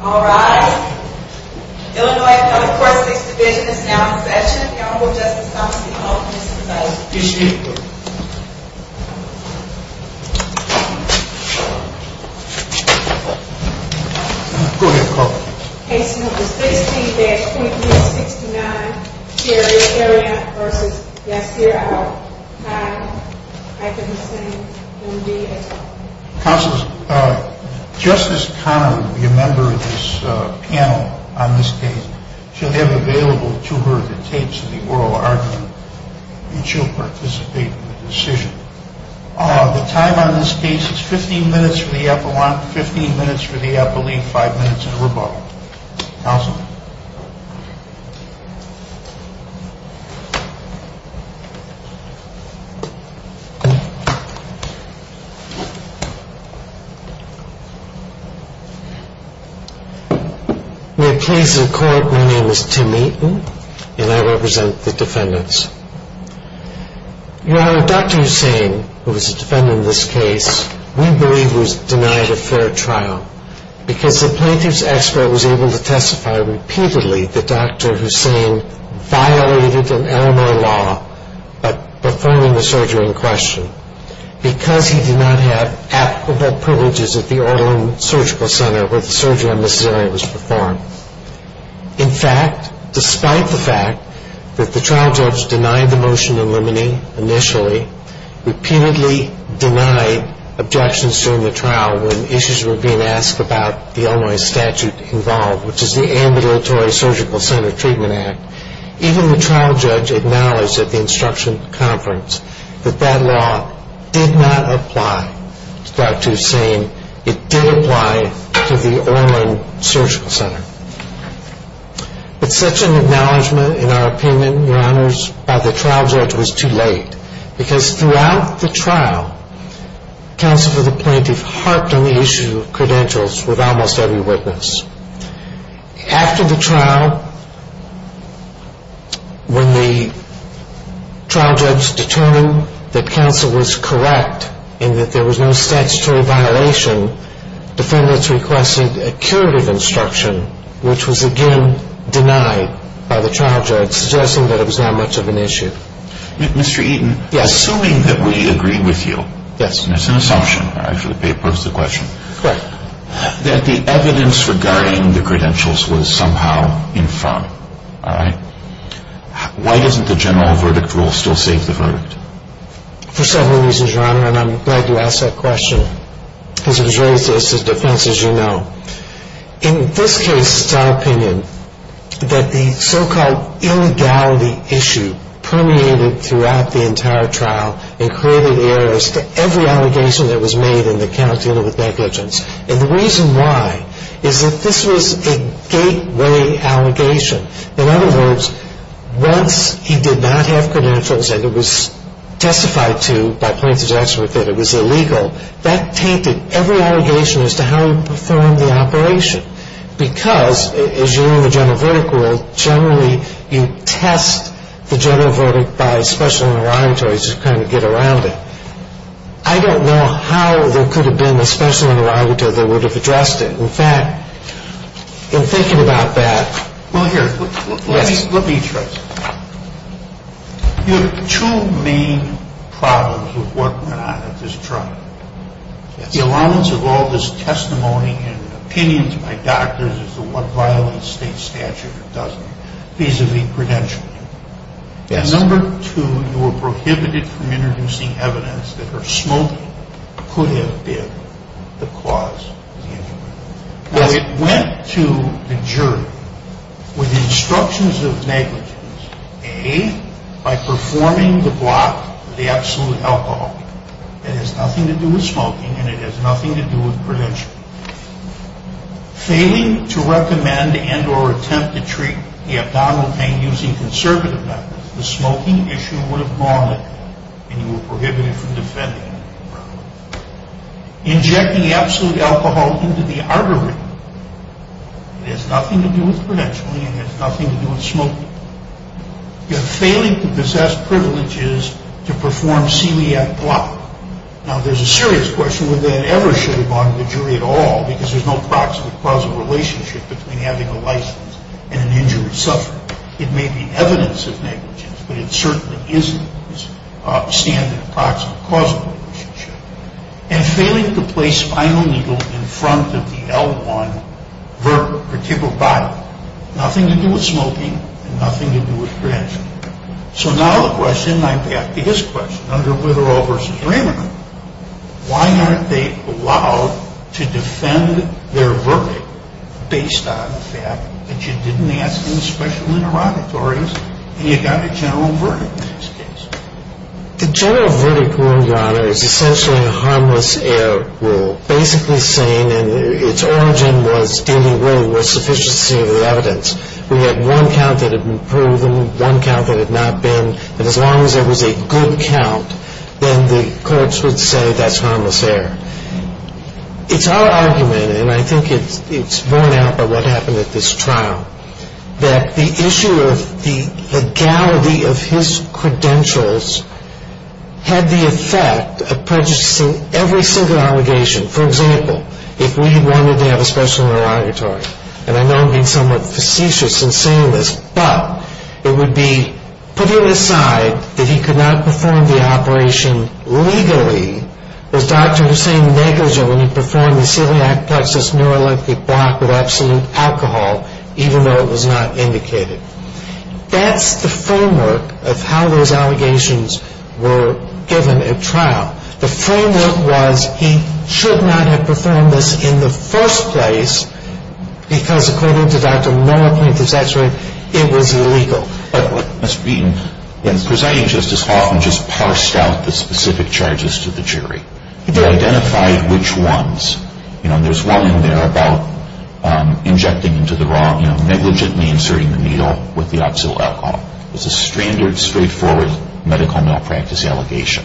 Alright, Illinois Public Courts 6th Division is now in session. The Honorable Justice Thomas E. Oakle, Mr. President. Yes, ma'am. Go ahead, call the roll. Case number 16, badge 2369, Jerry Ariant v. Yasir I. Khan-Hussein, M.D. Counselors, Justice Conner, the member of this panel on this case, she'll have available to her the tapes of the oral argument and she'll participate in the decision. The time on this case is 15 minutes for the appellant, 15 minutes for the appellee, 5 minutes in rebuttal. Counsel. May it please the court, my name is Tim Eaton and I represent the defendants. Your Honor, Dr. Hussein, who was a defendant in this case, we believe was denied a fair trial because the plaintiff's expert was able to testify repeatedly that Dr. Hussein violated an Illinois law by performing the surgery in question, because he did not have applicable privileges at the Orlin Surgical Center where the surgery on Ms. Ariant was performed. In fact, despite the fact that the trial judge denied the motion in limine initially, repeatedly denied objections during the trial when issues were being asked about the Illinois statute involved, which is the Ambulatory Surgical Center Treatment Act, even the trial judge acknowledged at the instruction conference that that law did not apply to Dr. Hussein. It did apply to the Orlin Surgical Center. But such an acknowledgment, in our opinion, Your Honors, by the trial judge was too late, because throughout the trial, Counsel for the Plaintiff harped on the issue of credentials with almost every witness. After the trial, when the trial judge determined that Counsel was correct and that there was no statutory violation, defendants requested a curative instruction, which was again denied by the trial judge, suggesting that it was not much of an issue. Mr. Eaton, assuming that we agree with you, and it's an assumption, I actually posed the question, that the evidence regarding the credentials was somehow in front, all right? Why doesn't the general verdict rule still save the verdict? For several reasons, Your Honor, and I'm glad you asked that question, because it was raised as a defense, as you know. In this case, it's our opinion that the so-called illegality issue permeated throughout the entire trial and created errors to every allegation that was made in the count dealing with negligence. And the reason why is that this was a gateway allegation. In other words, once he did not have credentials and it was testified to by plaintiff's expert that it was illegal, that tainted every allegation as to how he performed the operation. Because, as you know in the general verdict rule, generally you test the general verdict by a special interrogatory to kind of get around it. I don't know how there could have been a special interrogatory that would have addressed it. In fact, in thinking about that. Well, here, let me try. You have two main problems with what went on at this trial. The allowance of all this testimony and opinions by doctors is what violates state statute, or doesn't, vis-a-vis credentialing. Number two, you were prohibited from introducing evidence that her smoking could have been the cause of the injury. It went to the jury with instructions of negligence, A, by performing the block of the absolute alcohol. It has nothing to do with smoking and it has nothing to do with credentialing. Failing to recommend and or attempt to treat the abdominal pain using conservative methods. The smoking issue would have gone and you were prohibited from defending. Injecting absolute alcohol into the artery. It has nothing to do with credentialing and it has nothing to do with smoking. You're failing to possess privileges to perform CELIAC block. Now, there's a serious question whether that ever should have gone to the jury at all, because there's no proximate causal relationship between having a license and an injury suffered. It may be evidence of negligence, but it certainly isn't a standard proximate causal relationship. And failing to place spinal needle in front of the L1 vertebral body. Nothing to do with smoking and nothing to do with credentialing. So now the question, I'm back to his question, under Witherall v. Raymond. Why aren't they allowed to defend their verdict based on the fact that you didn't ask any special interrogatories and you got a general verdict in this case? The general verdict, Your Honor, is essentially a harmless error rule. Basically saying, and its origin was dealing with insufficiency of the evidence. We had one count that had been proven, one count that had not been, and as long as there was a good count, then the courts would say that's harmless error. It's our argument, and I think it's borne out by what happened at this trial, that the issue of the legality of his credentials had the effect of prejudicing every single allegation. For example, if we wanted to have a special interrogatory, and I know I'm being somewhat facetious in saying this, but it would be putting aside that he could not perform the operation legally, was Dr. Hussain negligent when he performed the celiac plexus neuroleptic block with absolute alcohol, even though it was not indicated. That's the framework of how those allegations were given at trial. The framework was he should not have performed this in the first place, because according to Dr. Noah Plinth, his x-ray, it was illegal. And Presiding Justice Hoffman just parsed out the specific charges to the jury. They identified which ones. There's one in there about injecting into the wrong, you know, negligently inserting the needle with the absolute alcohol. It's a standard, straightforward medical malpractice allegation.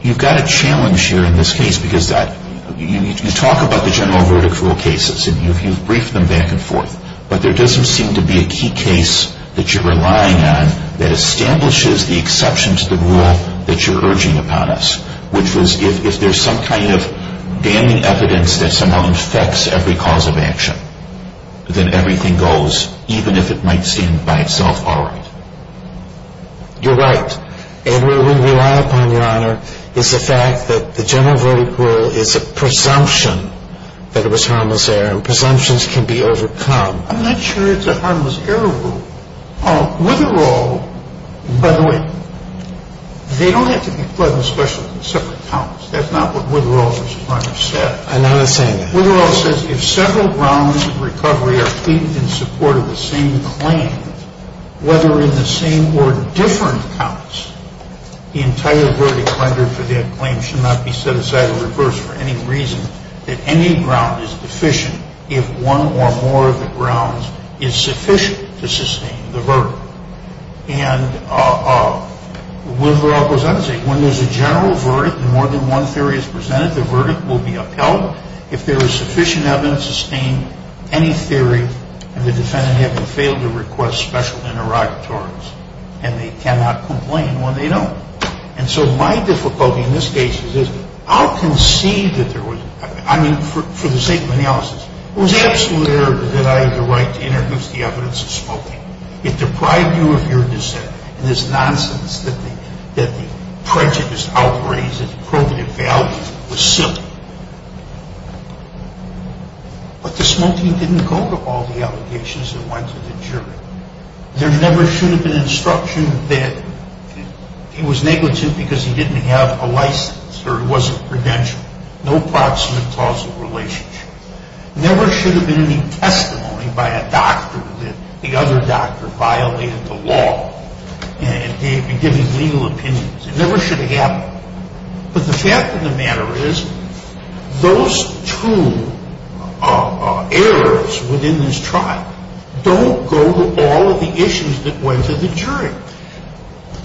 You've got a challenge here in this case, because you talk about the general verdict rule cases, and you've briefed them back and forth, but there doesn't seem to be a key case that you're relying on that establishes the exception to the rule that you're urging upon us, which was if there's some kind of damning evidence that somehow infects every cause of action, then everything goes, even if it might stand by itself all right. You're right. And where we rely upon, Your Honor, is the fact that the general verdict rule is a presumption that it was harmless error, and presumptions can be overcome. I'm not sure it's a harmless error rule. Witherall, by the way, they don't have to be pleasant specialists in separate counts. That's not what Witherall, Mr. Prime Minister, said. I'm not saying that. Witherall says if several rounds of recovery are pleaded in support of the same claim, whether in the same or different counts, the entire verdict rendered for that claim should not be set aside or reversed for any reason, that any ground is deficient if one or more of the grounds is sufficient to sustain the verdict. And Witherall goes on to say when there's a general verdict and more than one theory is presented, the verdict will be upheld if there is sufficient evidence to sustain any theory and the defendant having failed to request special interrogatories, and they cannot complain when they don't. And so my difficulty in this case is I'll concede that there was, I mean, for the sake of analysis, it was absolute error that I had the right to introduce the evidence of smoking. It deprived you of your dissent. And this nonsense that the prejudice outweighs its probative value was silly. But the smoking didn't go to all the allegations that went to the jury. There never should have been instruction that it was negligent because he didn't have a license or it wasn't credentialed. No proximate causal relationship. Never should have been any testimony by a doctor that the other doctor violated the law in giving legal opinions. It never should have happened. But the fact of the matter is those two errors within this trial don't go to all of the issues that went to the jury.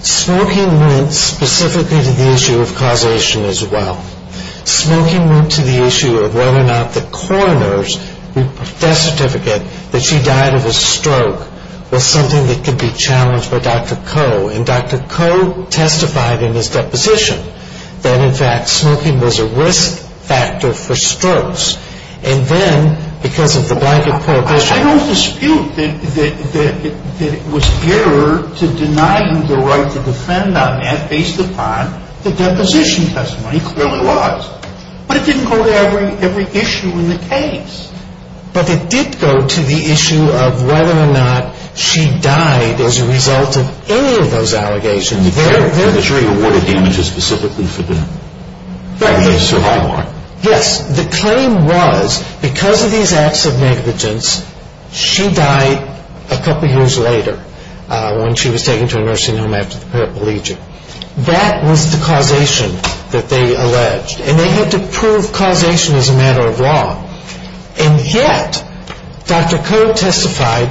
Smoking went specifically to the issue of causation as well. Smoking went to the issue of whether or not the coroner's death certificate that she died of a stroke was something that could be challenged by Dr. Coe. And Dr. Coe testified in his deposition that, in fact, smoking was a risk factor for strokes. And then because of the blanket prohibition. I don't dispute that it was error to deny you the right to defend on that based upon the deposition testimony. It clearly was. But it didn't go to every issue in the case. But it did go to the issue of whether or not she died as a result of any of those allegations. The jury awarded damages specifically for the survivor. Yes. The claim was because of these acts of negligence, she died a couple years later when she was taken to a nursing home after the paraplegia. That was the causation that they alleged. And they had to prove causation as a matter of law. And yet, Dr. Coe testified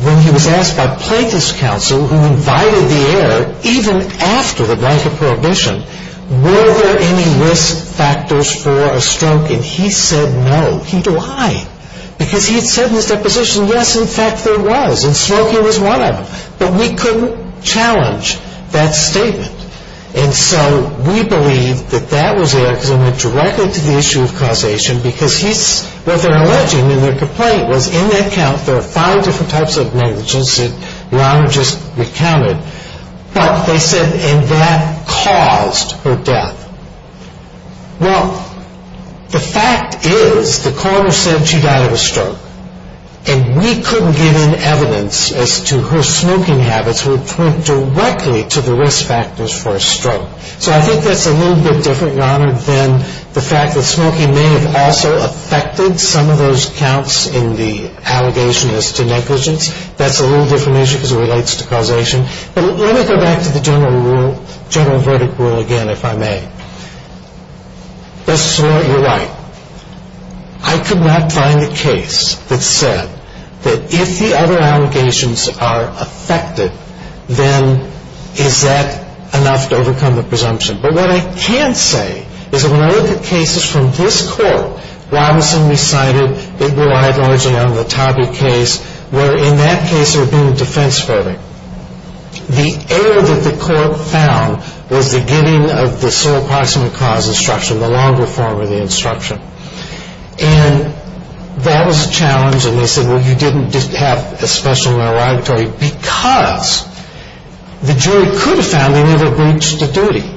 when he was asked by plaintiff's counsel who invited the error, even after the blanket prohibition, were there any risk factors for a stroke. And he said no. Why? Because he had said in his deposition, yes, in fact, there was. And smoking was one of them. But we couldn't challenge that statement. And so we believe that that was there because it went directly to the issue of causation because what they're alleging in their complaint was in that count, there are five different types of negligence that Your Honor just recounted. But they said, and that caused her death. Well, the fact is the coroner said she died of a stroke. And we couldn't get in evidence as to her smoking habits, which went directly to the risk factors for a stroke. So I think that's a little bit different, Your Honor, than the fact that smoking may have also affected some of those counts in the allegation as to negligence. That's a little different issue because it relates to causation. But let me go back to the general rule, general verdict rule again, if I may. This is what you're right. I could not find a case that said that if the other allegations are affected, then is that enough to overcome the presumption? But what I can say is that when I look at cases from this court, Robinson recited, it relied largely on the Tabby case, where in that case there had been a defense verdict. The error that the court found was the giving of the sole proximate cause instruction, the longer form of the instruction. And that was a challenge. And they said, well, you didn't have a special rerogatory because the jury could have found there was a breach of duty.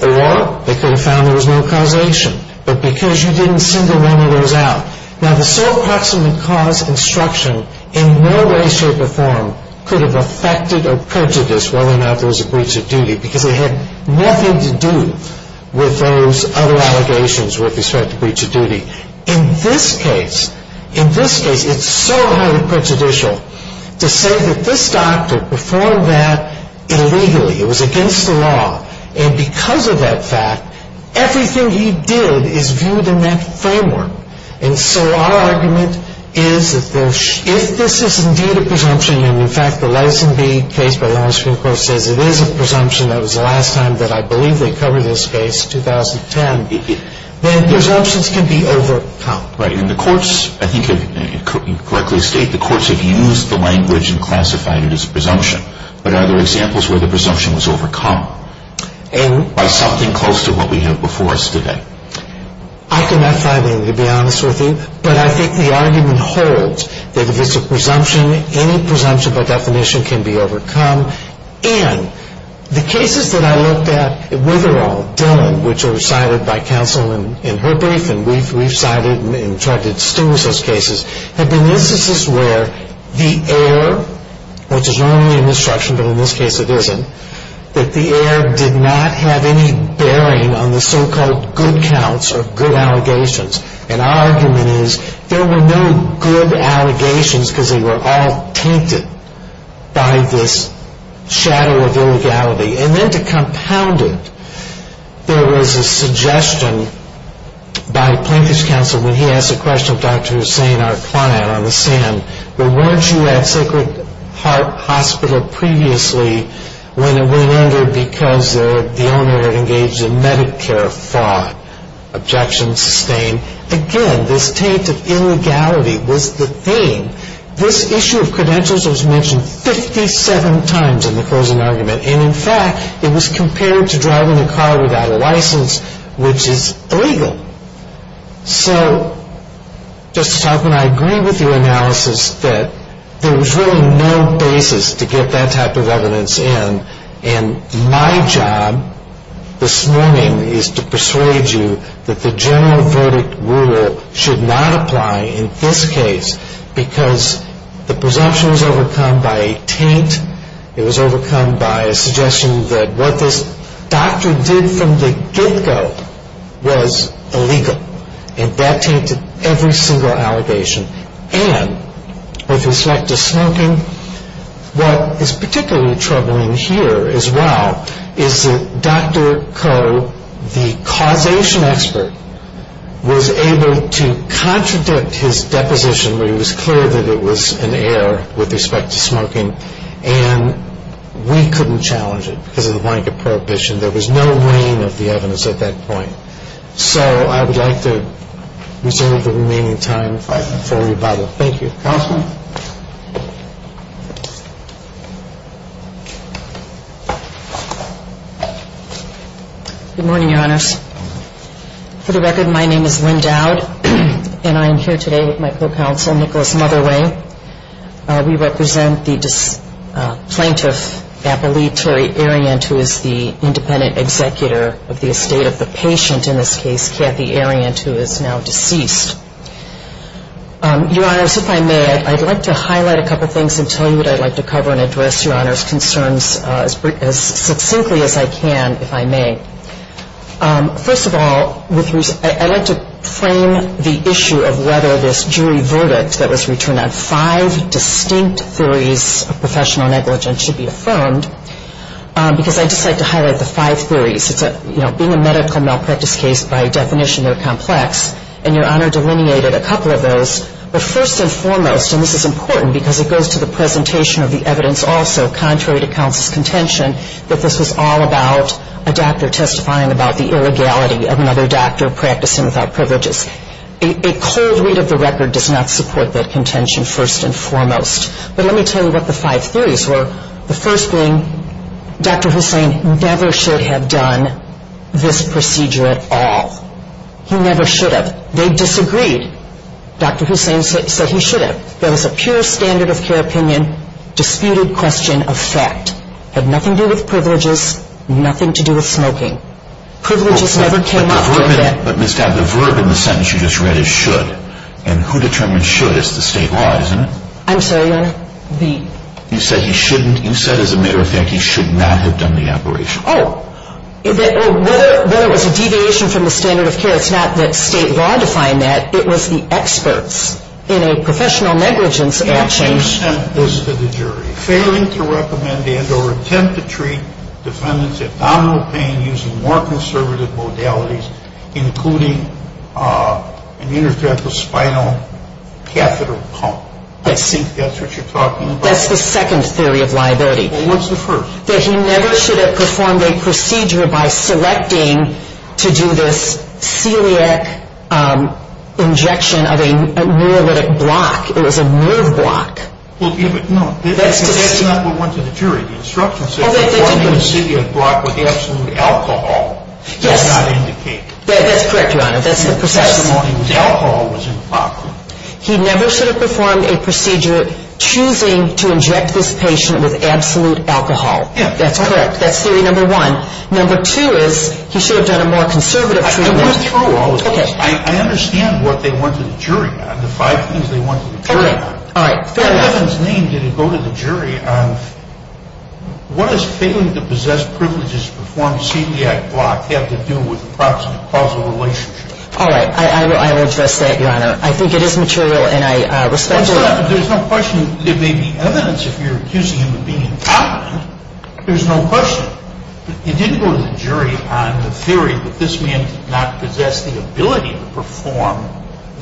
Or they could have found there was no causation. But because you didn't single any of those out. Now, the sole proximate cause instruction in no way, shape, or form could have affected or perjudiced whether or not there was a breach of duty because it had nothing to do with those other allegations with respect to breach of duty. In this case, it's so highly prejudicial to say that this doctor performed that illegally. It was against the law. And because of that fact, everything he did is viewed in that framework. And so our argument is that if this is indeed a presumption, and, in fact, the Leveson v. Case by the Longstreet Court says it is a presumption, that was the last time that I believe they covered this case, 2010, then presumptions can be overcome. Right. And the courts, I think you correctly state, the courts have used the language and classified it as a presumption. But are there examples where the presumption was overcome by something close to what we have before us today? I cannot find any, to be honest with you. But I think the argument holds that if it's a presumption, any presumption by definition can be overcome. And the cases that I looked at, with or all, Dylan, which are cited by counsel in her brief, and we've cited and tried to distinguish those cases, have been instances where the heir, which is normally an instruction, but in this case it isn't, that the heir did not have any bearing on the so-called good counts or good allegations. And our argument is there were no good allegations because they were all tainted by this shadow of illegality. And then to compound it, there was a suggestion by Plinkus counsel, when he asked the question of Dr. Hussain, our client on the Sand, where weren't you at Sacred Heart Hospital previously when it went under because the owner had engaged in Medicare fraud. Objection sustained. Again, this taint of illegality was the thing. This issue of credentials was mentioned 57 times in the closing argument. And, in fact, it was compared to driving a car without a license, which is illegal. So, Justice Hoffman, I agree with your analysis that there was really no basis to get that type of evidence in and my job this morning is to persuade you that the general verdict rule should not apply in this case because the presumption was overcome by a taint. It was overcome by a suggestion that what this doctor did from the get-go was illegal. And that tainted every single allegation. And, with respect to smoking, what is particularly troubling here, as well, is that Dr. Koh, the causation expert, was able to contradict his deposition where it was clear that it was an error with respect to smoking and we couldn't challenge it because of the blanket prohibition. There was no rein of the evidence at that point. So, I would like to reserve the remaining time for rebuttal. Thank you. Counsel? Good morning, Your Honors. For the record, my name is Lynn Dowd and I am here today with my co-counsel, Nicholas Motherway. We represent the plaintiff, Appalachie Terry Ariant, who is the independent executor of the estate of the patient, in this case, Kathy Ariant, who is now deceased. Your Honors, if I may, I'd like to highlight a couple things and tell you what I'd like to cover and address Your Honors' concerns as succinctly as I can, if I may. First of all, I'd like to frame the issue of whether this jury verdict that was returned on five distinct theories of professional negligence should be affirmed because I'd just like to highlight the five theories. Being a medical malpractice case, by definition, they're complex, and Your Honor delineated a couple of those, but first and foremost, and this is important because it goes to the presentation of the evidence also, contrary to counsel's contention, that this was all about a doctor testifying about the illegality of another doctor practicing without privileges. A cold read of the record does not support that contention, first and foremost. But let me tell you what the five theories were. The first being Dr. Hussein never should have done this procedure at all. He never should have. They disagreed. Dr. Hussein said he should have. There was a pure standard of care opinion, disputed question of fact. Had nothing to do with privileges, nothing to do with smoking. Privileges never came after that. But Ms. Dabb, the verb in the sentence you just read is should, and who determines should is the state law, isn't it? I'm sorry, Your Honor. You said he shouldn't. You said, as a matter of fact, he should not have done the operation. Oh. Whether it was a deviation from the standard of care, it's not that state law defined that. It was the experts in a professional negligence action. And you sent this to the jury. Failing to recommend and or attempt to treat defendant's abdominal pain using more conservative modalities, including an interstitial spinal catheter pump. I think that's what you're talking about. That's the second theory of liability. Well, what's the first? That he never should have performed a procedure by selecting to do this celiac injection of a neurolytic block. It was a nerve block. No, that's not what went to the jury. The instructions said performing a celiac block with absolute alcohol. Yes. Does not indicate. That's correct, Your Honor. That's the process. The testimony with alcohol was improper. He never should have performed a procedure choosing to inject this patient with absolute alcohol. Yes. That's correct. That's theory number one. Number two is he should have done a more conservative treatment. I went through all of this. Okay. I understand what they went to the jury on, the five things they went to the jury on. All right. All right. Fair enough. Defendant's name didn't go to the jury on what does failing to possess privileges to perform celiac block have to do with approximate causal relationship? All right. I will address that, Your Honor. I think it is material and I respect it. There's no question there may be evidence if you're accusing him of being incompetent. There's no question. It didn't go to the jury on the theory that this man did not possess the ability to perform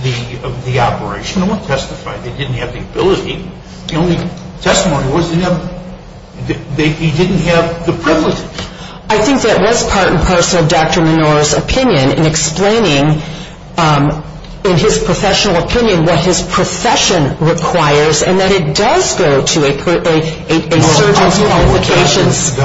the operation. No one testified they didn't have the ability. The only testimony was he didn't have the privileges. I think that was part and parcel of Dr. Menor's opinion in explaining in his professional opinion what his profession requires and that it does go to a surgeon's qualifications.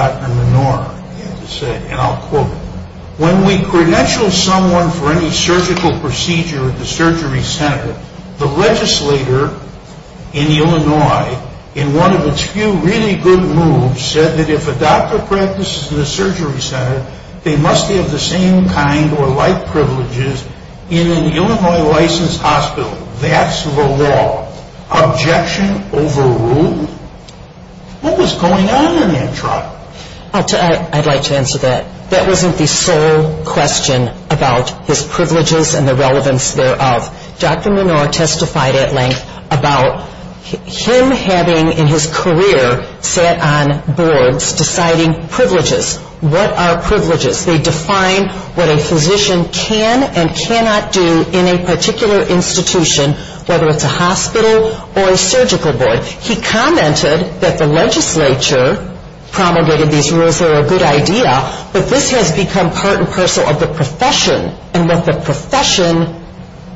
When we credential someone for any surgical procedure at the surgery center, the legislator in Illinois, in one of its few really good moves, said that if a doctor practices in a surgery center, they must have the same kind or like privileges in an Illinois licensed hospital. That's the law. Objection overruled? What was going on in that trial? I'd like to answer that. That wasn't the sole question about his privileges and the relevance thereof. Dr. Menor testified at length about him having in his career sat on boards deciding privileges. What are privileges? They define what a physician can and cannot do in a particular institution, whether it's a hospital or a surgical board. He commented that the legislature promulgated these rules that were a good idea, but this has become part and parcel of the profession and that the profession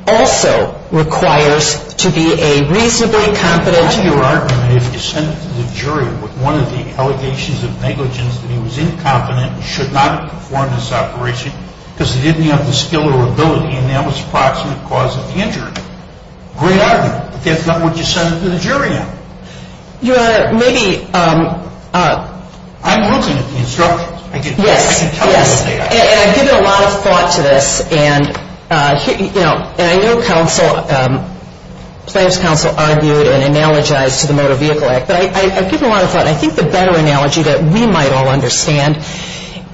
also requires to be a reasonably competent juror. How do you argue that if you send it to the jury with one of the allegations of negligence that he was incompetent and should not have performed this operation because he didn't have the skill or ability and that was the approximate cause of the injury? Great argument, but that's not what you send it to the jury on. Your Honor, maybe... I'm looking at the instructions. Yes, yes, and I've given a lot of thought to this. And I know Planned Parenthood's counsel argued and analogized to the Motor Vehicle Act, but I've given a lot of thought and I think the better analogy that we might all understand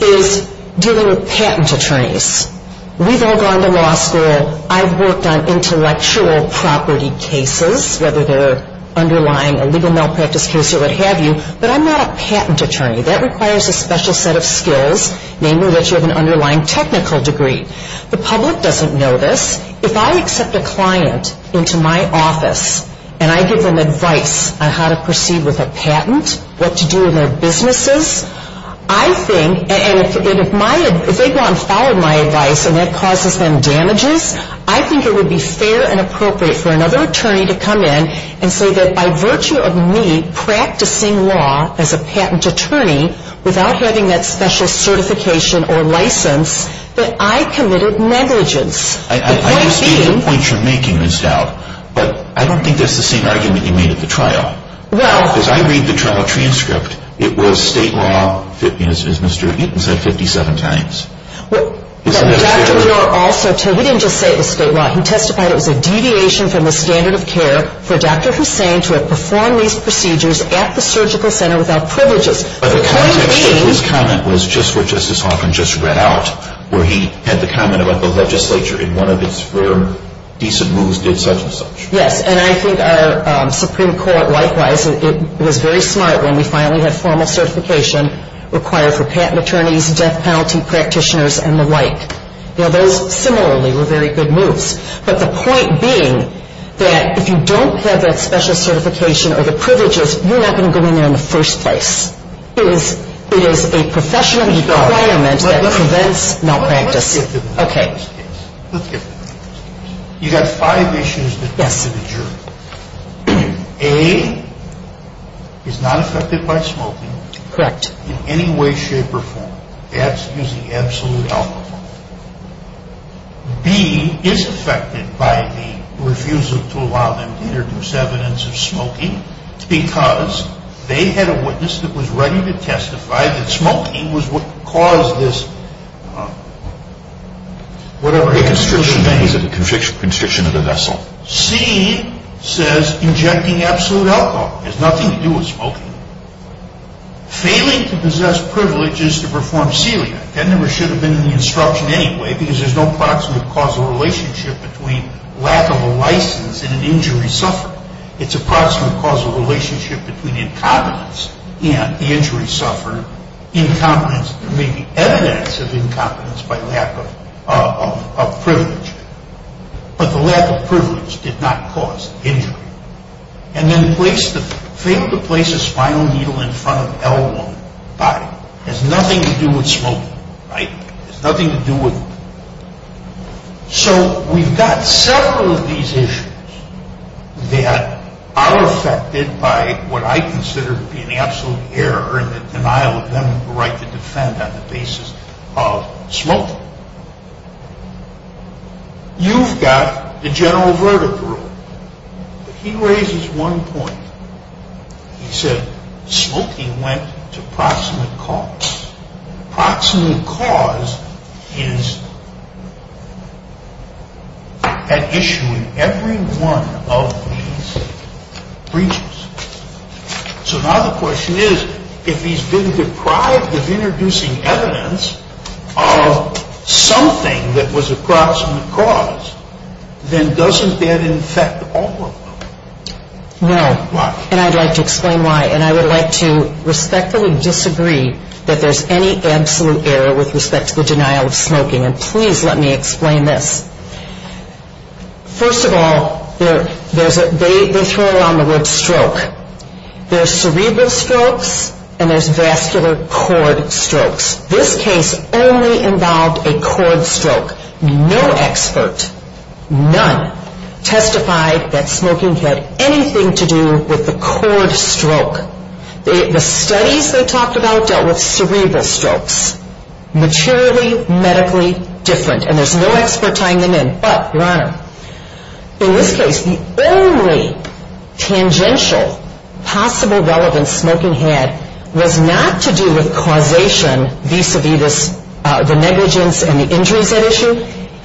is dealing with patent attorneys. We've all gone to law school. I've worked on intellectual property cases, whether they're underlying a legal malpractice case or what have you, but I'm not a patent attorney. That requires a special set of skills, namely that you have an underlying technical degree. The public doesn't know this. If I accept a client into my office and I give them advice on how to proceed with a patent, what to do in their businesses, I think, and if they go on to follow my advice and that causes them damages, I think it would be fair and appropriate for another attorney to come in and say that by virtue of me practicing law as a patent attorney without having that special certification or license, that I committed negligence. I understand the point you're making, Ms. Dowd, but I don't think that's the same argument you made at the trial. As I read the trial transcript, it was state law, as Mr. Eaton said, 57 times. But Dr. Gore also, he didn't just say it was state law. He testified it was a deviation from the standard of care for Dr. Hussain to have performed these procedures at the surgical center without privileges. But the context of his comment was just what Justice Hawkins just read out, where he had the comment about the legislature in one of its very decent moves did such and such. Yes, and I think our Supreme Court, likewise, it was very smart when we finally had formal certification required for patent attorneys, death penalty practitioners, and the like. Now, those similarly were very good moves. But the point being that if you don't have that special certification or the privileges, you're not going to go in there in the first place. It is a professional requirement that prevents malpractice. Okay. You've got five issues. Yes. A is not affected by smoking. Correct. In any way, shape, or form. That's using absolute alcohol. B is affected by the refusal to allow them to introduce evidence of smoking because they had a witness that was ready to testify that smoking was what caused this, whatever. A constriction. Is it a constriction of the vessel? C says injecting absolute alcohol. It has nothing to do with smoking. Failing to possess privileges to perform celiac. That never should have been in the instruction anyway because there's no proximate causal relationship between lack of a license and an injury suffered. It's a proximate causal relationship between incompetence and the injury suffered. Incompetence. There may be evidence of incompetence by lack of privilege. But the lack of privilege did not cause injury. And then fail to place a spinal needle in front of L1 body. It has nothing to do with smoking. Right? It has nothing to do with. So we've got several of these issues that are affected by what I consider to be an absolute error in the denial of them the right to defend on the basis of smoking. You've got the general verdict rule. He raises one point. He said smoking went to proximate cause. Proximate cause is an issue in every one of these breaches. So now the question is if he's been deprived of introducing evidence of something that was a proximate cause, then doesn't that infect all of them? No. Why? And I'd like to explain why. And I would like to respectfully disagree that there's any absolute error with respect to the denial of smoking. And please let me explain this. First of all, they throw around the word stroke. There's cerebral strokes and there's vascular cord strokes. This case only involved a cord stroke. No expert, none, testified that smoking had anything to do with the cord stroke. The studies they talked about dealt with cerebral strokes. Materially, medically different. And there's no expert tying them in. But, Your Honor, in this case, the only tangential possible relevance smoking had was not to do with causation and vis-a-vis the negligence and the injuries at issue.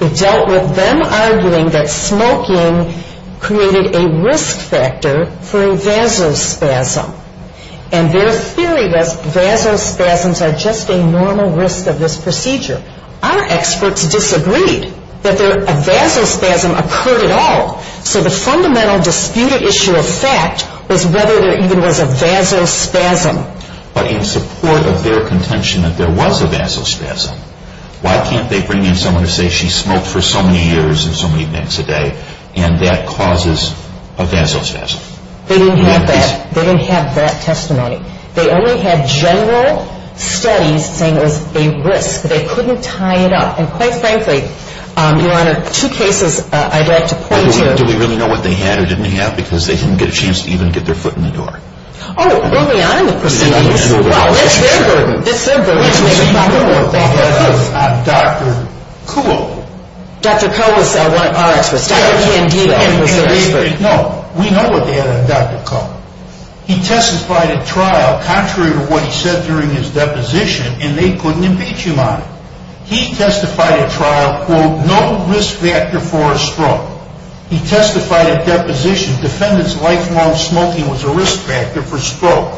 It dealt with them arguing that smoking created a risk factor for a vasospasm. And their theory was vasospasms are just a normal risk of this procedure. Our experts disagreed that a vasospasm occurred at all. So the fundamental disputed issue of fact was whether there even was a vasospasm. But in support of their contention that there was a vasospasm, why can't they bring in someone to say she smoked for so many years and so many nights a day and that causes a vasospasm? They didn't have that. They didn't have that testimony. They only had general studies saying it was a risk. They couldn't tie it up. And, quite frankly, Your Honor, two cases I'd like to point to. Do we really know what they had or didn't have? Because they didn't get a chance to even get their foot in the door. Oh, bring me on in the proceedings. Well, it's their burden. It's their burden. We know what they had on Dr. Kuhl. Dr. Kuhl was our expert. He was our expert. No, we know what they had on Dr. Kuhl. He testified at trial contrary to what he said during his deposition, and they couldn't impeach him on it. He testified at trial, quote, no risk factor for a stroke. He testified at deposition. Defendant's lifelong smoking was a risk factor for stroke.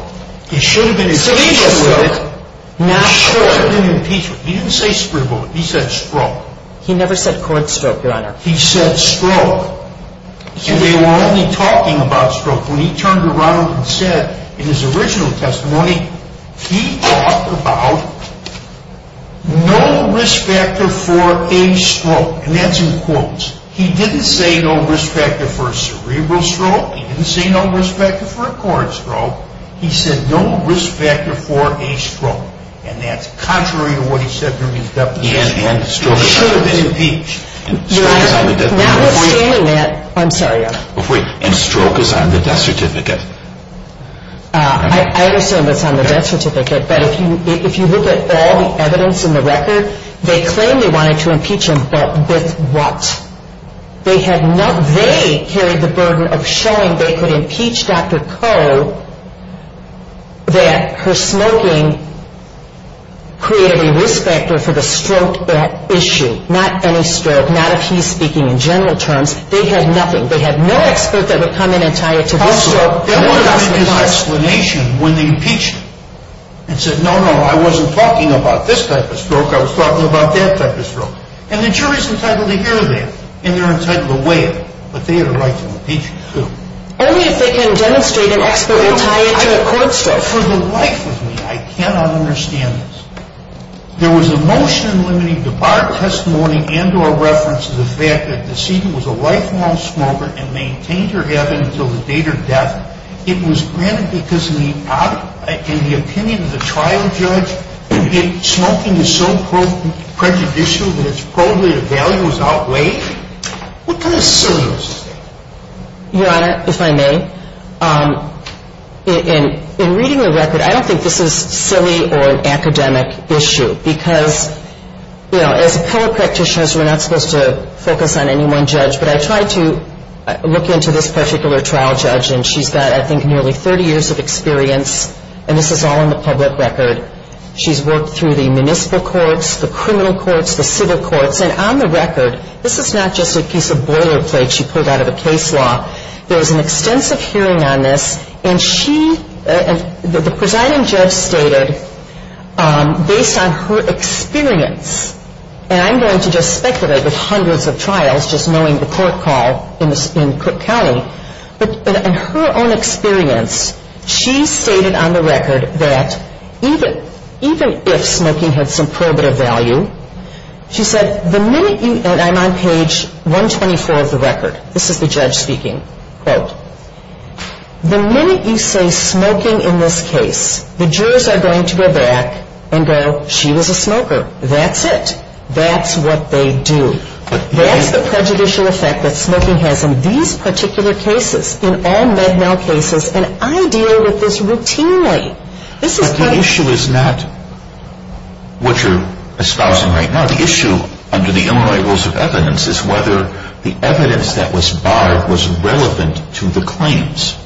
He should have been impeached with it. He should have been impeached with it. He didn't say scribble. He said stroke. He never said court stroke, Your Honor. He said stroke. And they were only talking about stroke. When he turned around and said in his original testimony, he talked about no risk factor for a stroke, and that's in quotes. He didn't say no risk factor for a cerebral stroke. He didn't say no risk factor for a court stroke. He said no risk factor for a stroke, and that's contrary to what he said during his deposition. He should have been impeached. Your Honor, notwithstanding that, I'm sorry. And stroke is on the death certificate. I understand that it's on the death certificate, but if you look at all the evidence in the record, they claim they wanted to impeach him, but with what? They carried the burden of showing they could impeach Dr. Koh that her smoking created a risk factor for the stroke issue. Not any stroke, not if he's speaking in general terms. They had nothing. They had no expert that would come in and tie it to this stroke. They wanted to make an explanation when they impeached him and said, no, no, I wasn't talking about this type of stroke. I was talking about that type of stroke. And the jury's entitled to hear that, and they're entitled to weigh it, but they had a right to impeach him too. Only if they can demonstrate an expert and tie it to a court stroke. For the life of me, I cannot understand this. There was a motion limiting the bar testimony and or reference to the fact that the decedent was a lifelong smoker and maintained her habit until the date of death. It was granted because in the opinion of the trial judge, smoking is so prejudicial that it's probably the value was outweighed. What kind of silliness is that? Your Honor, if I may, in reading the record, I don't think this is silly or an academic issue because, you know, as appellate practitioners, we're not supposed to focus on any one judge, but I tried to look into this particular trial judge, and she's got, I think, nearly 30 years of experience, and this is all in the public record. She's worked through the municipal courts, the criminal courts, the civil courts, and on the record, this is not just a piece of boilerplate she pulled out of a case law. There was an extensive hearing on this, and she, the presiding judge stated, based on her experience, and I'm going to just speculate with hundreds of trials, just knowing the court call in Cook County, but in her own experience, she stated on the record that even if smoking had some probative value, she said the minute you, and I'm on page 124 of the record, this is the judge speaking, quote, the minute you say smoking in this case, the jurors are going to go back and go, she was a smoker. That's it. That's what they do. That's the prejudicial effect that smoking has in these particular cases, in all MEDNOW cases, and I deal with this routinely. But the issue is not what you're espousing right now. The issue under the Illinois Rules of Evidence is whether the evidence that was barred was relevant to the claims.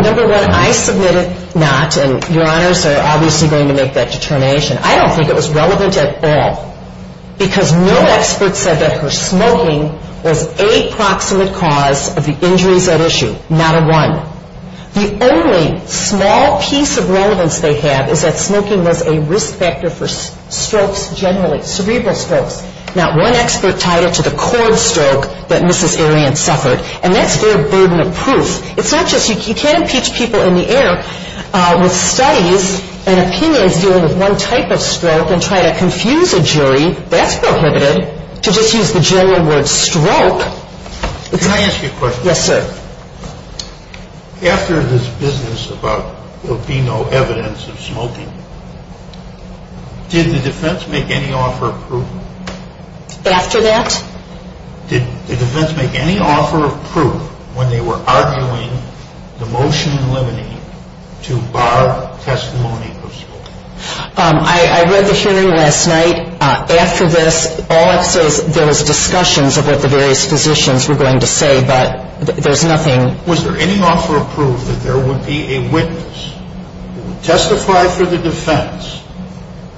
Number one, I submitted not, and your honors are obviously going to make that determination. I don't think it was relevant at all, because no expert said that her smoking was a proximate cause of the injuries at issue. Not a one. The only small piece of relevance they have is that smoking was a risk factor for strokes generally, cerebral strokes. Not one expert tied it to the cord stroke that Mrs. Arian suffered, and that's their burden of proof. It's not just, you can't impeach people in the air with studies and opinions dealing with one type of stroke and try to confuse a jury, that's prohibited, to just use the general word stroke. Can I ask you a question? Yes, sir. After this business about there being no evidence of smoking, did the defense make any offer of proof? After that? Did the defense make any offer of proof when they were arguing the motion limiting to bar testimony of smoking? I read the hearing last night. After this, all I saw was discussions about what the various physicians were going to say, but there's nothing. Was there any offer of proof that there would be a witness who would testify for the defense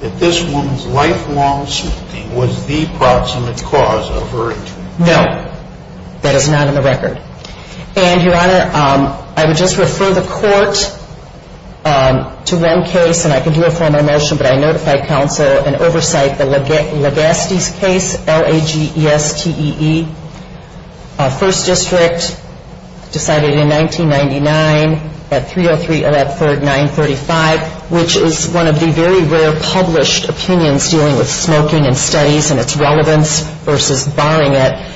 that this woman's lifelong smoking was the proximate cause of her injury? No. That is not in the record. And, Your Honor, I would just refer the court to one case, and I can do a formal motion, but I notify counsel and oversight the Lagastes case, L-A-G-E-S-T-E-E. First district decided in 1999 that 303 of that third 935, which is one of the very rare published opinions dealing with smoking and studies and its relevance versus barring it.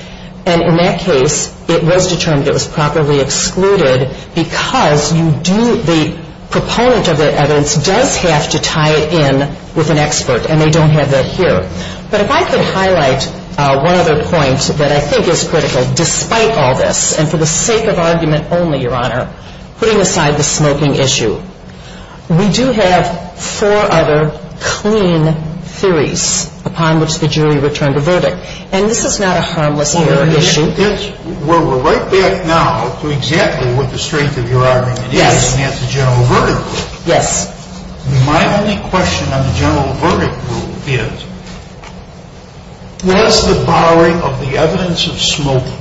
And in that case, it was determined it was properly excluded because the proponent of the evidence does have to tie it in with an expert, and they don't have that here. But if I could highlight one other point that I think is critical, despite all this, and for the sake of argument only, Your Honor, putting aside the smoking issue, we do have four other clean theories upon which the jury returned a verdict. And this is not a harmless hearing issue. Well, we're right back now to exactly what the strength of your argument is, and that's the general verdict rule. Yes. My only question on the general verdict rule is, was the barring of the evidence of smoking,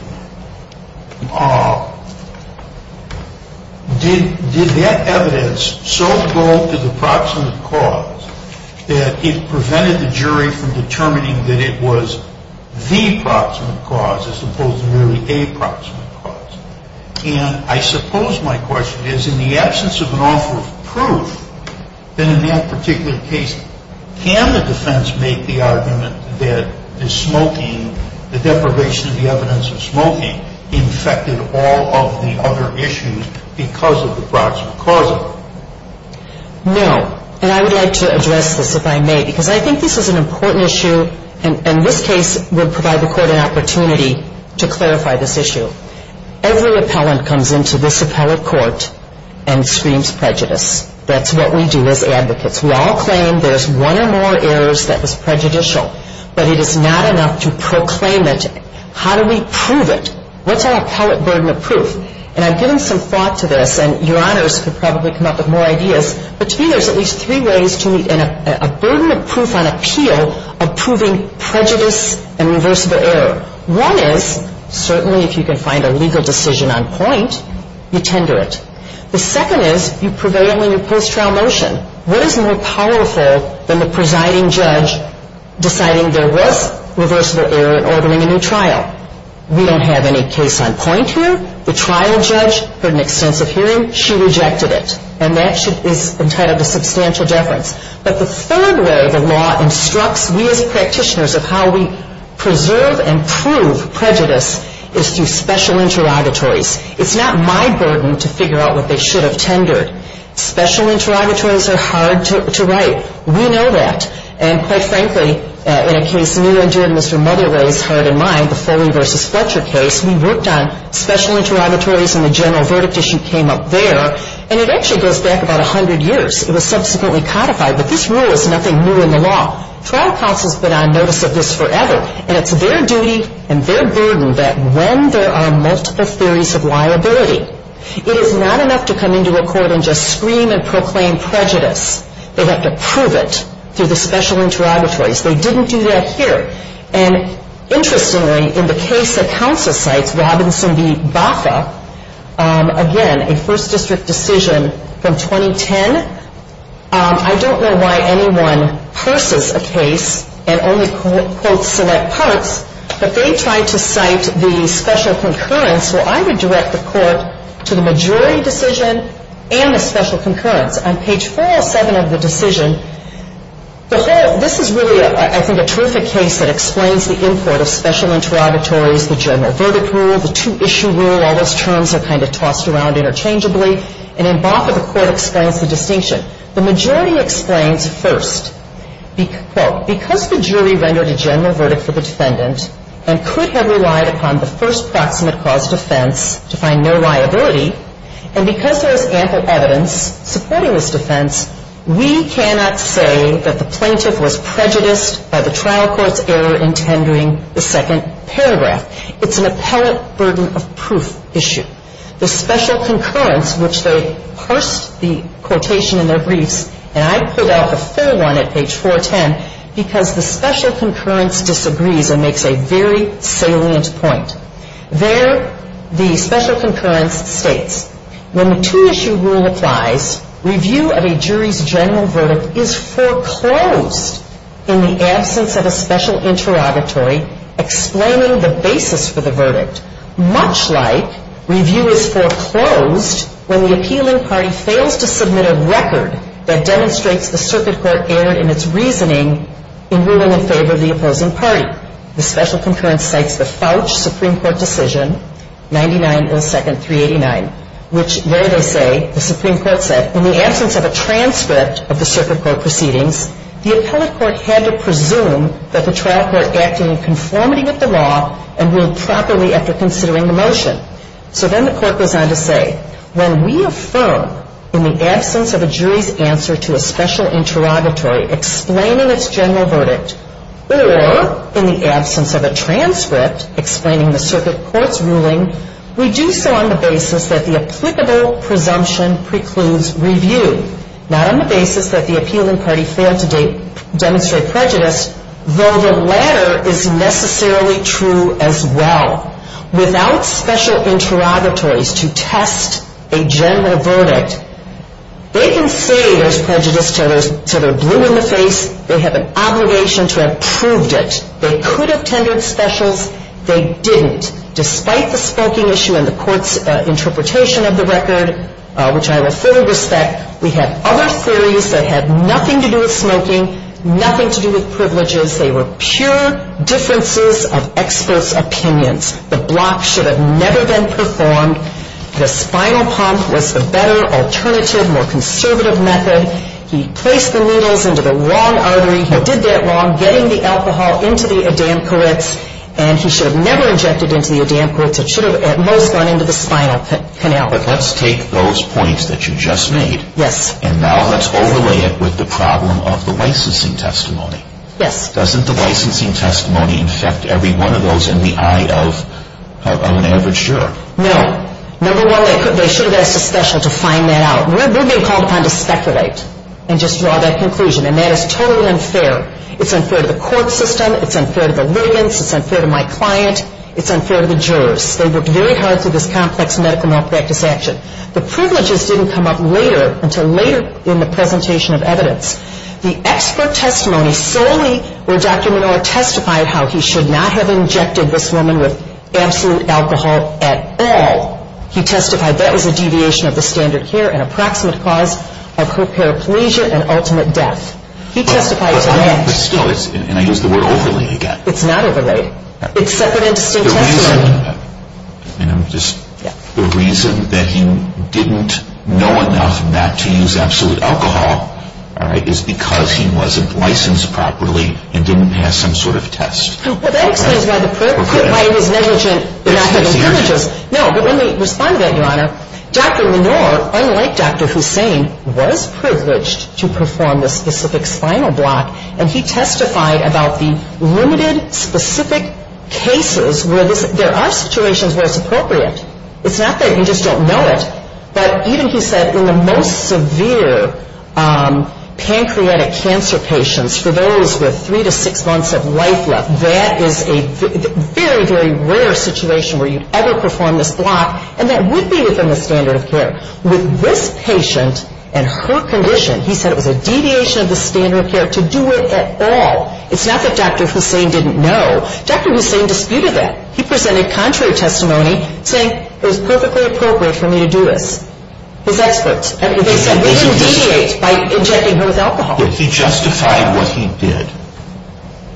did that evidence so go to the proximate cause that it prevented the jury from determining that it was the proximate cause as opposed to merely a proximate cause? And I suppose my question is, in the absence of an offer of proof, then in that particular case, can the defense make the argument that the smoking, the deprivation of the evidence of smoking, infected all of the other issues because of the proximate cause of it? No. And I would like to address this, if I may, because I think this is an important issue, and this case would provide the Court an opportunity to clarify this issue. Every appellant comes into this appellate court and screams prejudice. That's what we do as advocates. We all claim there's one or more errors that was prejudicial, but it is not enough to proclaim it. How do we prove it? What's our appellate burden of proof? And I've given some thought to this, and Your Honors could probably come up with more ideas, but to me there's at least three ways to meet a burden of proof on appeal of proving prejudice and reversible error. One is, certainly if you can find a legal decision on point, you tender it. The second is you prevail in your post-trial motion. What is more powerful than the presiding judge deciding there was reversible error in ordering a new trial? We don't have any case on point here. The trial judge heard an extensive hearing. She rejected it, and that is entitled to substantial deference. But the third way the law instructs we as practitioners of how we preserve and prove prejudice is through special interrogatories. It's not my burden to figure out what they should have tendered. Special interrogatories are hard to write. We know that. And quite frankly, in a case new and dear to Mr. Mudderley's heart and mind, the Foley v. Fletcher case, we worked on special interrogatories, and the general verdict issue came up there. And it actually goes back about 100 years. It was subsequently codified, but this rule is nothing new in the law. Trial counsels have been on notice of this forever, and it's their duty and their burden that when there are multiple theories of liability, it is not enough to come into a court and just scream and proclaim prejudice. They have to prove it through the special interrogatories. They didn't do that here. And interestingly, in the case that counsel cites, Robinson v. Baca, again, a first district decision from 2010. I don't know why anyone purses a case and only quotes select parts, but they tried to cite the special concurrence. Well, I would direct the court to the majority decision and the special concurrence. On page 407 of the decision, this is really, I think, a terrific case that explains the import of special interrogatories, the general verdict rule, the two-issue rule. All those terms are kind of tossed around interchangeably. And in Baca, the Court explains the distinction. The majority explains first, quote, because the jury rendered a general verdict for the defendant and could have relied upon the first proximate cause defense to find no liability, and because there is ample evidence supporting this defense, we cannot say that the plaintiff was prejudiced by the trial court's error in tendering the second paragraph. It's an appellate burden of proof issue. The special concurrence, which they parsed the quotation in their briefs, and I put out a third one at page 410 because the special concurrence disagrees and makes a very salient point. There, the special concurrence states, when the two-issue rule applies, review of a jury's general verdict is foreclosed in the absence of a special interrogatory explaining the basis for the verdict, much like review is foreclosed when the appealing party fails to submit a record that demonstrates the circuit court erred in its reasoning in ruling in favor of the opposing party. The special concurrence cites the Fouch Supreme Court decision, 99.02.389, which there they say, the Supreme Court said, in the absence of a transcript of the circuit court proceedings, the appellate court had to presume that the trial court acted in conformity with the law and ruled properly after considering the motion. So then the court goes on to say, when we affirm in the absence of a jury's answer to a special interrogatory explaining its general verdict, or in the absence of a transcript explaining the circuit court's ruling, we do so on the basis that the applicable presumption precludes review, not on the basis that the appealing party failed to demonstrate prejudice, though the latter is necessarily true as well. Without special interrogatories to test a general verdict, they can say there's prejudice till they're blue in the face. They have an obligation to have proved it. They could have tendered specials. They didn't, despite the smoking issue and the court's interpretation of the record, which I will fully respect. We had other theories that had nothing to do with smoking, nothing to do with privileges. They were pure differences of experts' opinions. The block should have never been performed. The spinal pump was the better, alternative, more conservative method. He placed the needles into the wrong artery. He did that wrong, getting the alcohol into the oedemperits, and he should have never injected into the oedemperits. It should have at most gone into the spinal canal. Let's take those points that you just made. Yes. And now let's overlay it with the problem of the licensing testimony. Yes. Doesn't the licensing testimony infect every one of those in the eye of an average juror? No. Number one, they should have asked a special to find that out. We're being called upon to speculate and just draw that conclusion, and that is totally unfair. It's unfair to the court system. It's unfair to the litigants. It's unfair to my client. It's unfair to the jurors. They worked very hard through this complex medical malpractice action. The privileges didn't come up later until later in the presentation of evidence. The expert testimony solely where Dr. Minora testified how he should not have injected this woman with absolute alcohol at all. He testified that was a deviation of the standard here, an approximate cause of her paraplegia and ultimate death. He testified to that. But still, and I use the word overlay again. It's not overlay. It's separate and distinct testimony. And I'm just, the reason that he didn't know enough not to use absolute alcohol, all right, is because he wasn't licensed properly and didn't pass some sort of test. Well, that explains why it was negligent not to have privileges. No, but let me respond to that, Your Honor. Dr. Minora, unlike Dr. Hussain, was privileged to perform this specific spinal block, and he testified about the limited specific cases where there are situations where it's appropriate. It's not that you just don't know it, but even he said in the most severe pancreatic cancer patients, for those with three to six months of life left, that is a very, very rare situation where you'd ever perform this block, and that would be within the standard of care. With this patient and her condition, he said it was a deviation of the standard of care to do it at all. It's not that Dr. Hussain didn't know. Dr. Hussain disputed that. He presented contrary testimony, saying it was perfectly appropriate for me to do this. His experts. They said it would deviate by injecting her with alcohol. He justified what he did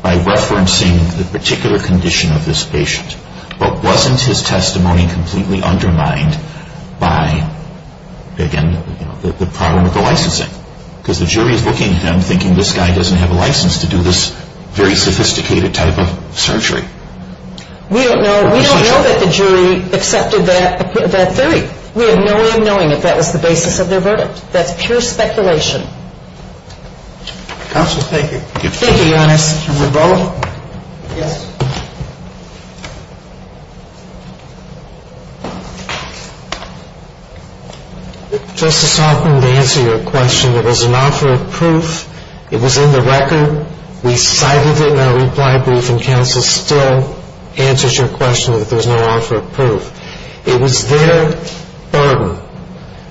by referencing the particular condition of this patient, but wasn't his testimony completely undermined by, again, the problem with the licensing? Because the jury is looking at him thinking this guy doesn't have a license to do this very sophisticated type of surgery. We don't know that the jury accepted that theory. We have no way of knowing if that was the basis of their verdict. That's pure speculation. Counsel, thank you. Thank you, Your Honor. Mr. Marbolo? Yes. Justice Hoffman, to answer your question, there was an offer of proof. It was in the record. We cited it in our reply brief, and counsel still answers your question that there's no offer of proof. It was their burden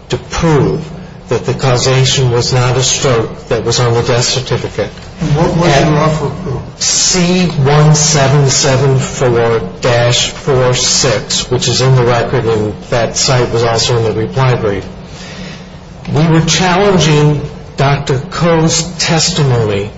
to prove that the causation was not a stroke that was on the death certificate. What was the offer of proof? C1774-46, which is in the record, and that site was also in the reply brief. We were challenging Dr. Koh's testimony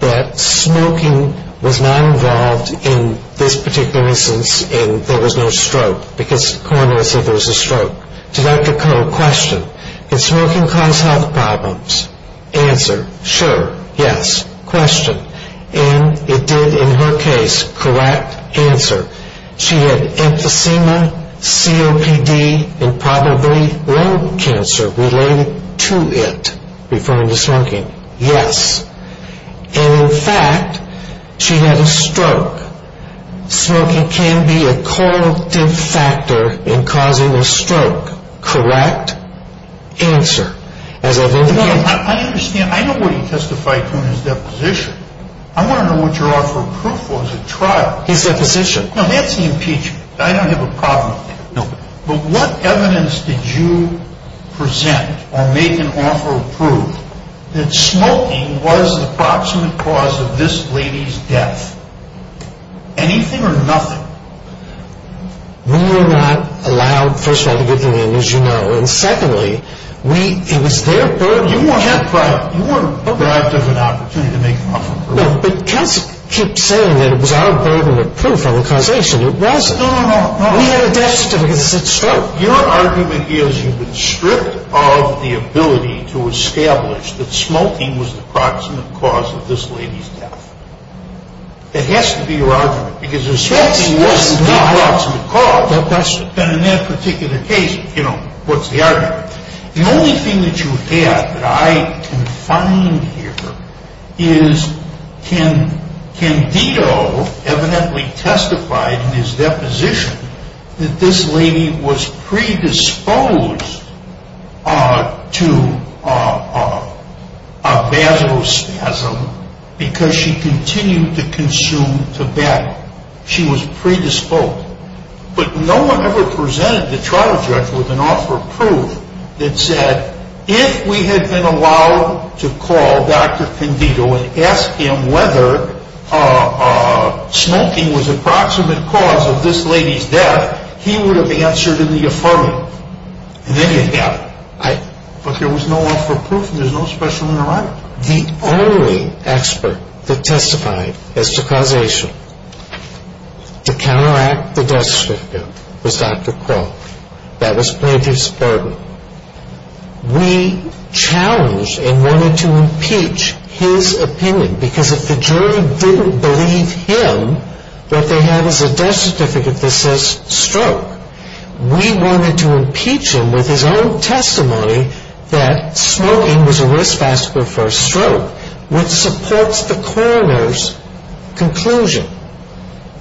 that smoking was not involved in this particular instance, and there was no stroke because coroner said there was a stroke. To Dr. Koh, question, did smoking cause health problems? Answer, sure, yes. Question, and it did in her case. Correct answer. She had emphysema, COPD, and probably lung cancer related to it, referring to smoking. Yes. And, in fact, she had a stroke. Smoking can be a correlative factor in causing a stroke. Correct answer, as I've indicated. I understand. I know what he testified to in his deposition. I want to know what your offer of proof was at trial. His deposition. No, that's the impeachment. I don't have a problem with that. No. But what evidence did you present or make an offer of proof that smoking was the approximate cause of this lady's death? Anything or nothing? We were not allowed, first of all, to give the name, as you know, and, secondly, it was their burden. You weren't deprived of an opportunity to make an offer of proof. No, but counsel keeps saying that it was our burden of proof on the causation. It wasn't. No, no, no. We had a death certificate that said stroke. Your argument is you've been stripped of the ability to establish that smoking was the approximate cause of this lady's death. That has to be your argument, because if smoking wasn't the approximate cause, then in that particular case, you know, what's the argument? The only thing that you had that I can find here is Candido evidently testified in his deposition that this lady was predisposed to a vasospasm because she continued to consume tobacco. She was predisposed. But no one ever presented the trial judge with an offer of proof that said, if we had been allowed to call Dr. Candido and ask him whether smoking was the approximate cause of this lady's death, he would have answered in the affirmative. And then you'd have it. But there was no offer of proof, and there's no specimen around. We were not the only expert that testified as to causation. To counteract the death certificate was Dr. Crow. That was plaintiff's burden. We challenged and wanted to impeach his opinion, because if the jury didn't believe him that they had as a death certificate that says stroke, we wanted to impeach him with his own testimony that smoking was a risk factor for stroke, which supports the coroner's conclusion.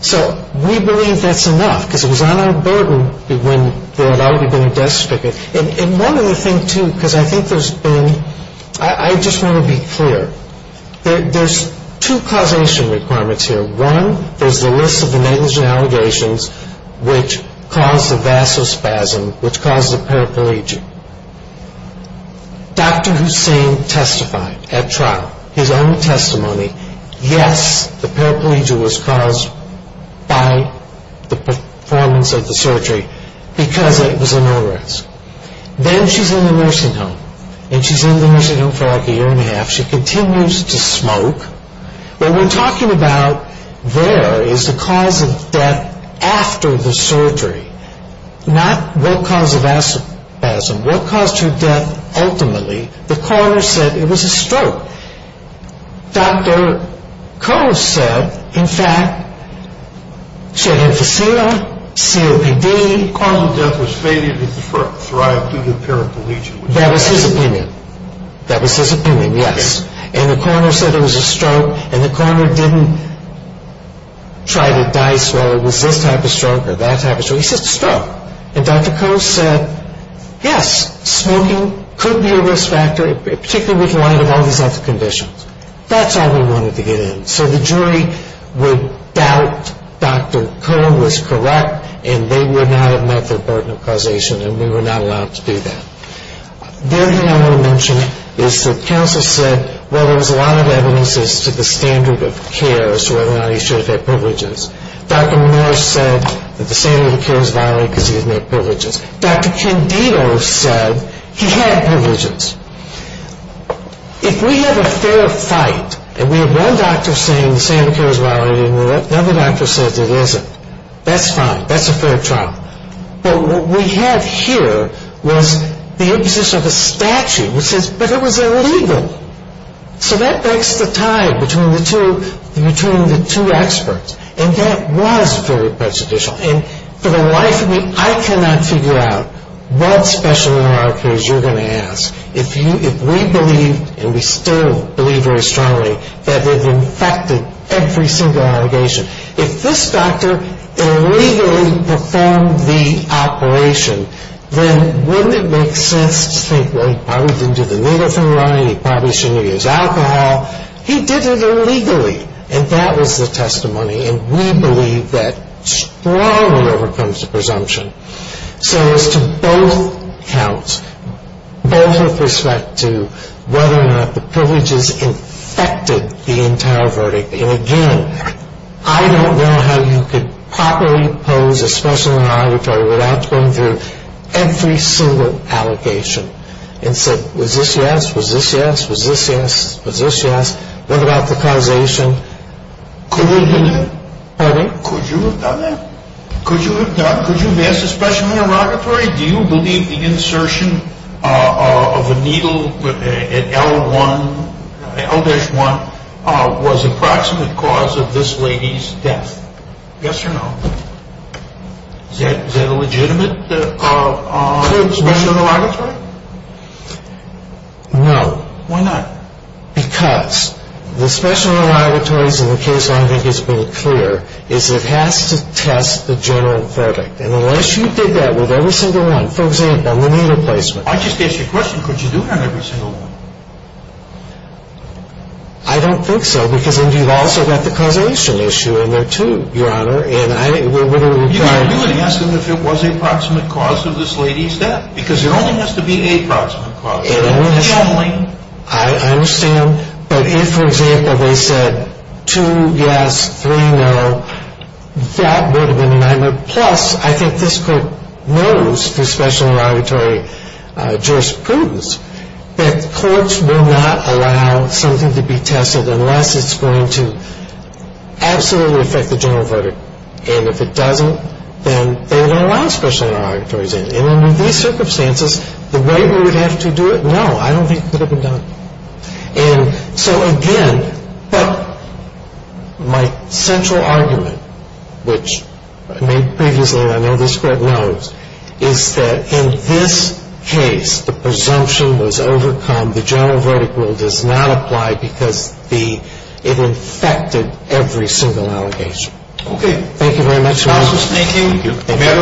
So we believe that's enough, because it was on our burden when there had already been a death certificate. And one other thing, too, because I think there's been ‑‑ I just want to be clear. There's two causation requirements here. One, there's the list of the negligent allegations which caused the vasospasm, which caused the paraplegia. Dr. Hussain testified at trial, his own testimony. Yes, the paraplegia was caused by the performance of the surgery, because it was a no‑risk. Then she's in the nursing home, and she's in the nursing home for like a year and a half. She continues to smoke. What we're talking about there is the cause of death after the surgery, not what caused the vasospasm, what caused her death ultimately. The coroner said it was a stroke. Dr. Coe said, in fact, she had emphysema, COPD. The cause of death was fated to thrive through the paraplegia. That was his opinion. That was his opinion, yes. The coroner said it was a stroke, and the coroner didn't try to dice, well, it was this type of stroke or that type of stroke. He said it was a stroke. Dr. Coe said, yes, smoking could be a risk factor, particularly with light of all these other conditions. That's all we wanted to get in. So the jury would doubt Dr. Coe was correct, and they would not have met their burden of causation, and we were not allowed to do that. The other thing I want to mention is the counsel said, well, there was a lot of evidence as to the standard of care as to whether or not he should have had privileges. Dr. Menor said that the standard of care is violated because he didn't have privileges. Dr. Candido said he had privileges. If we have a fair fight and we have one doctor saying the standard of care is violated and another doctor says it isn't, that's fine. That's a fair trial. But what we have here was the imposition of a statute which says, but it was illegal. So that breaks the tie between the two experts, and that was very prejudicial. And for the life of me, I cannot figure out what special in our case you're going to ask if we believe, and we still believe very strongly, that they've infected every single allegation. If this doctor illegally performed the operation, then wouldn't it make sense to think, well, he probably didn't do the needle thing right, he probably shouldn't have used alcohol. He did it illegally, and that was the testimony, and we believe that strongly overcomes the presumption. So as to both counts, both with respect to whether or not the privileges infected the entire verdict, again, I don't know how you could properly pose a special interrogatory without going through every single allegation and say, was this yes, was this yes, was this yes, was this yes? What about the causation? Could you have done that? Pardon? Could you have done that? Could you have asked a special interrogatory, do you believe the insertion of a needle at L1, L-1, was a proximate cause of this lady's death? Yes or no? Is that a legitimate special interrogatory? No. Why not? Because the special interrogatories in the case I think has been clear is it has to test the general verdict. And unless you did that with every single one, for example, the needle placement. I just asked you a question. Could you do it on every single one? I don't think so, because then you've also got the causation issue in there too, Your Honor. And I wouldn't have done it. You could do it and ask them if it was a proximate cause of this lady's death, because it only has to be a proximate cause. And additionally, I understand, but if, for example, they said two yes, three no, that would have been a nightmare. Plus, I think this Court knows through special interrogatory jurisprudence that courts will not allow something to be tested unless it's going to absolutely affect the general verdict. And if it doesn't, then they won't allow special interrogatories in. And under these circumstances, the way we would have to do it, no, I don't think it could have been done. And so, again, my central argument, which I made previously and I know this Court knows, is that in this case, the presumption was overcome. The general verdict rule does not apply because it affected every single allegation. Okay. Thank you very much, Your Honor. Thank you. The matter will be taken under incision. Court is adjourned.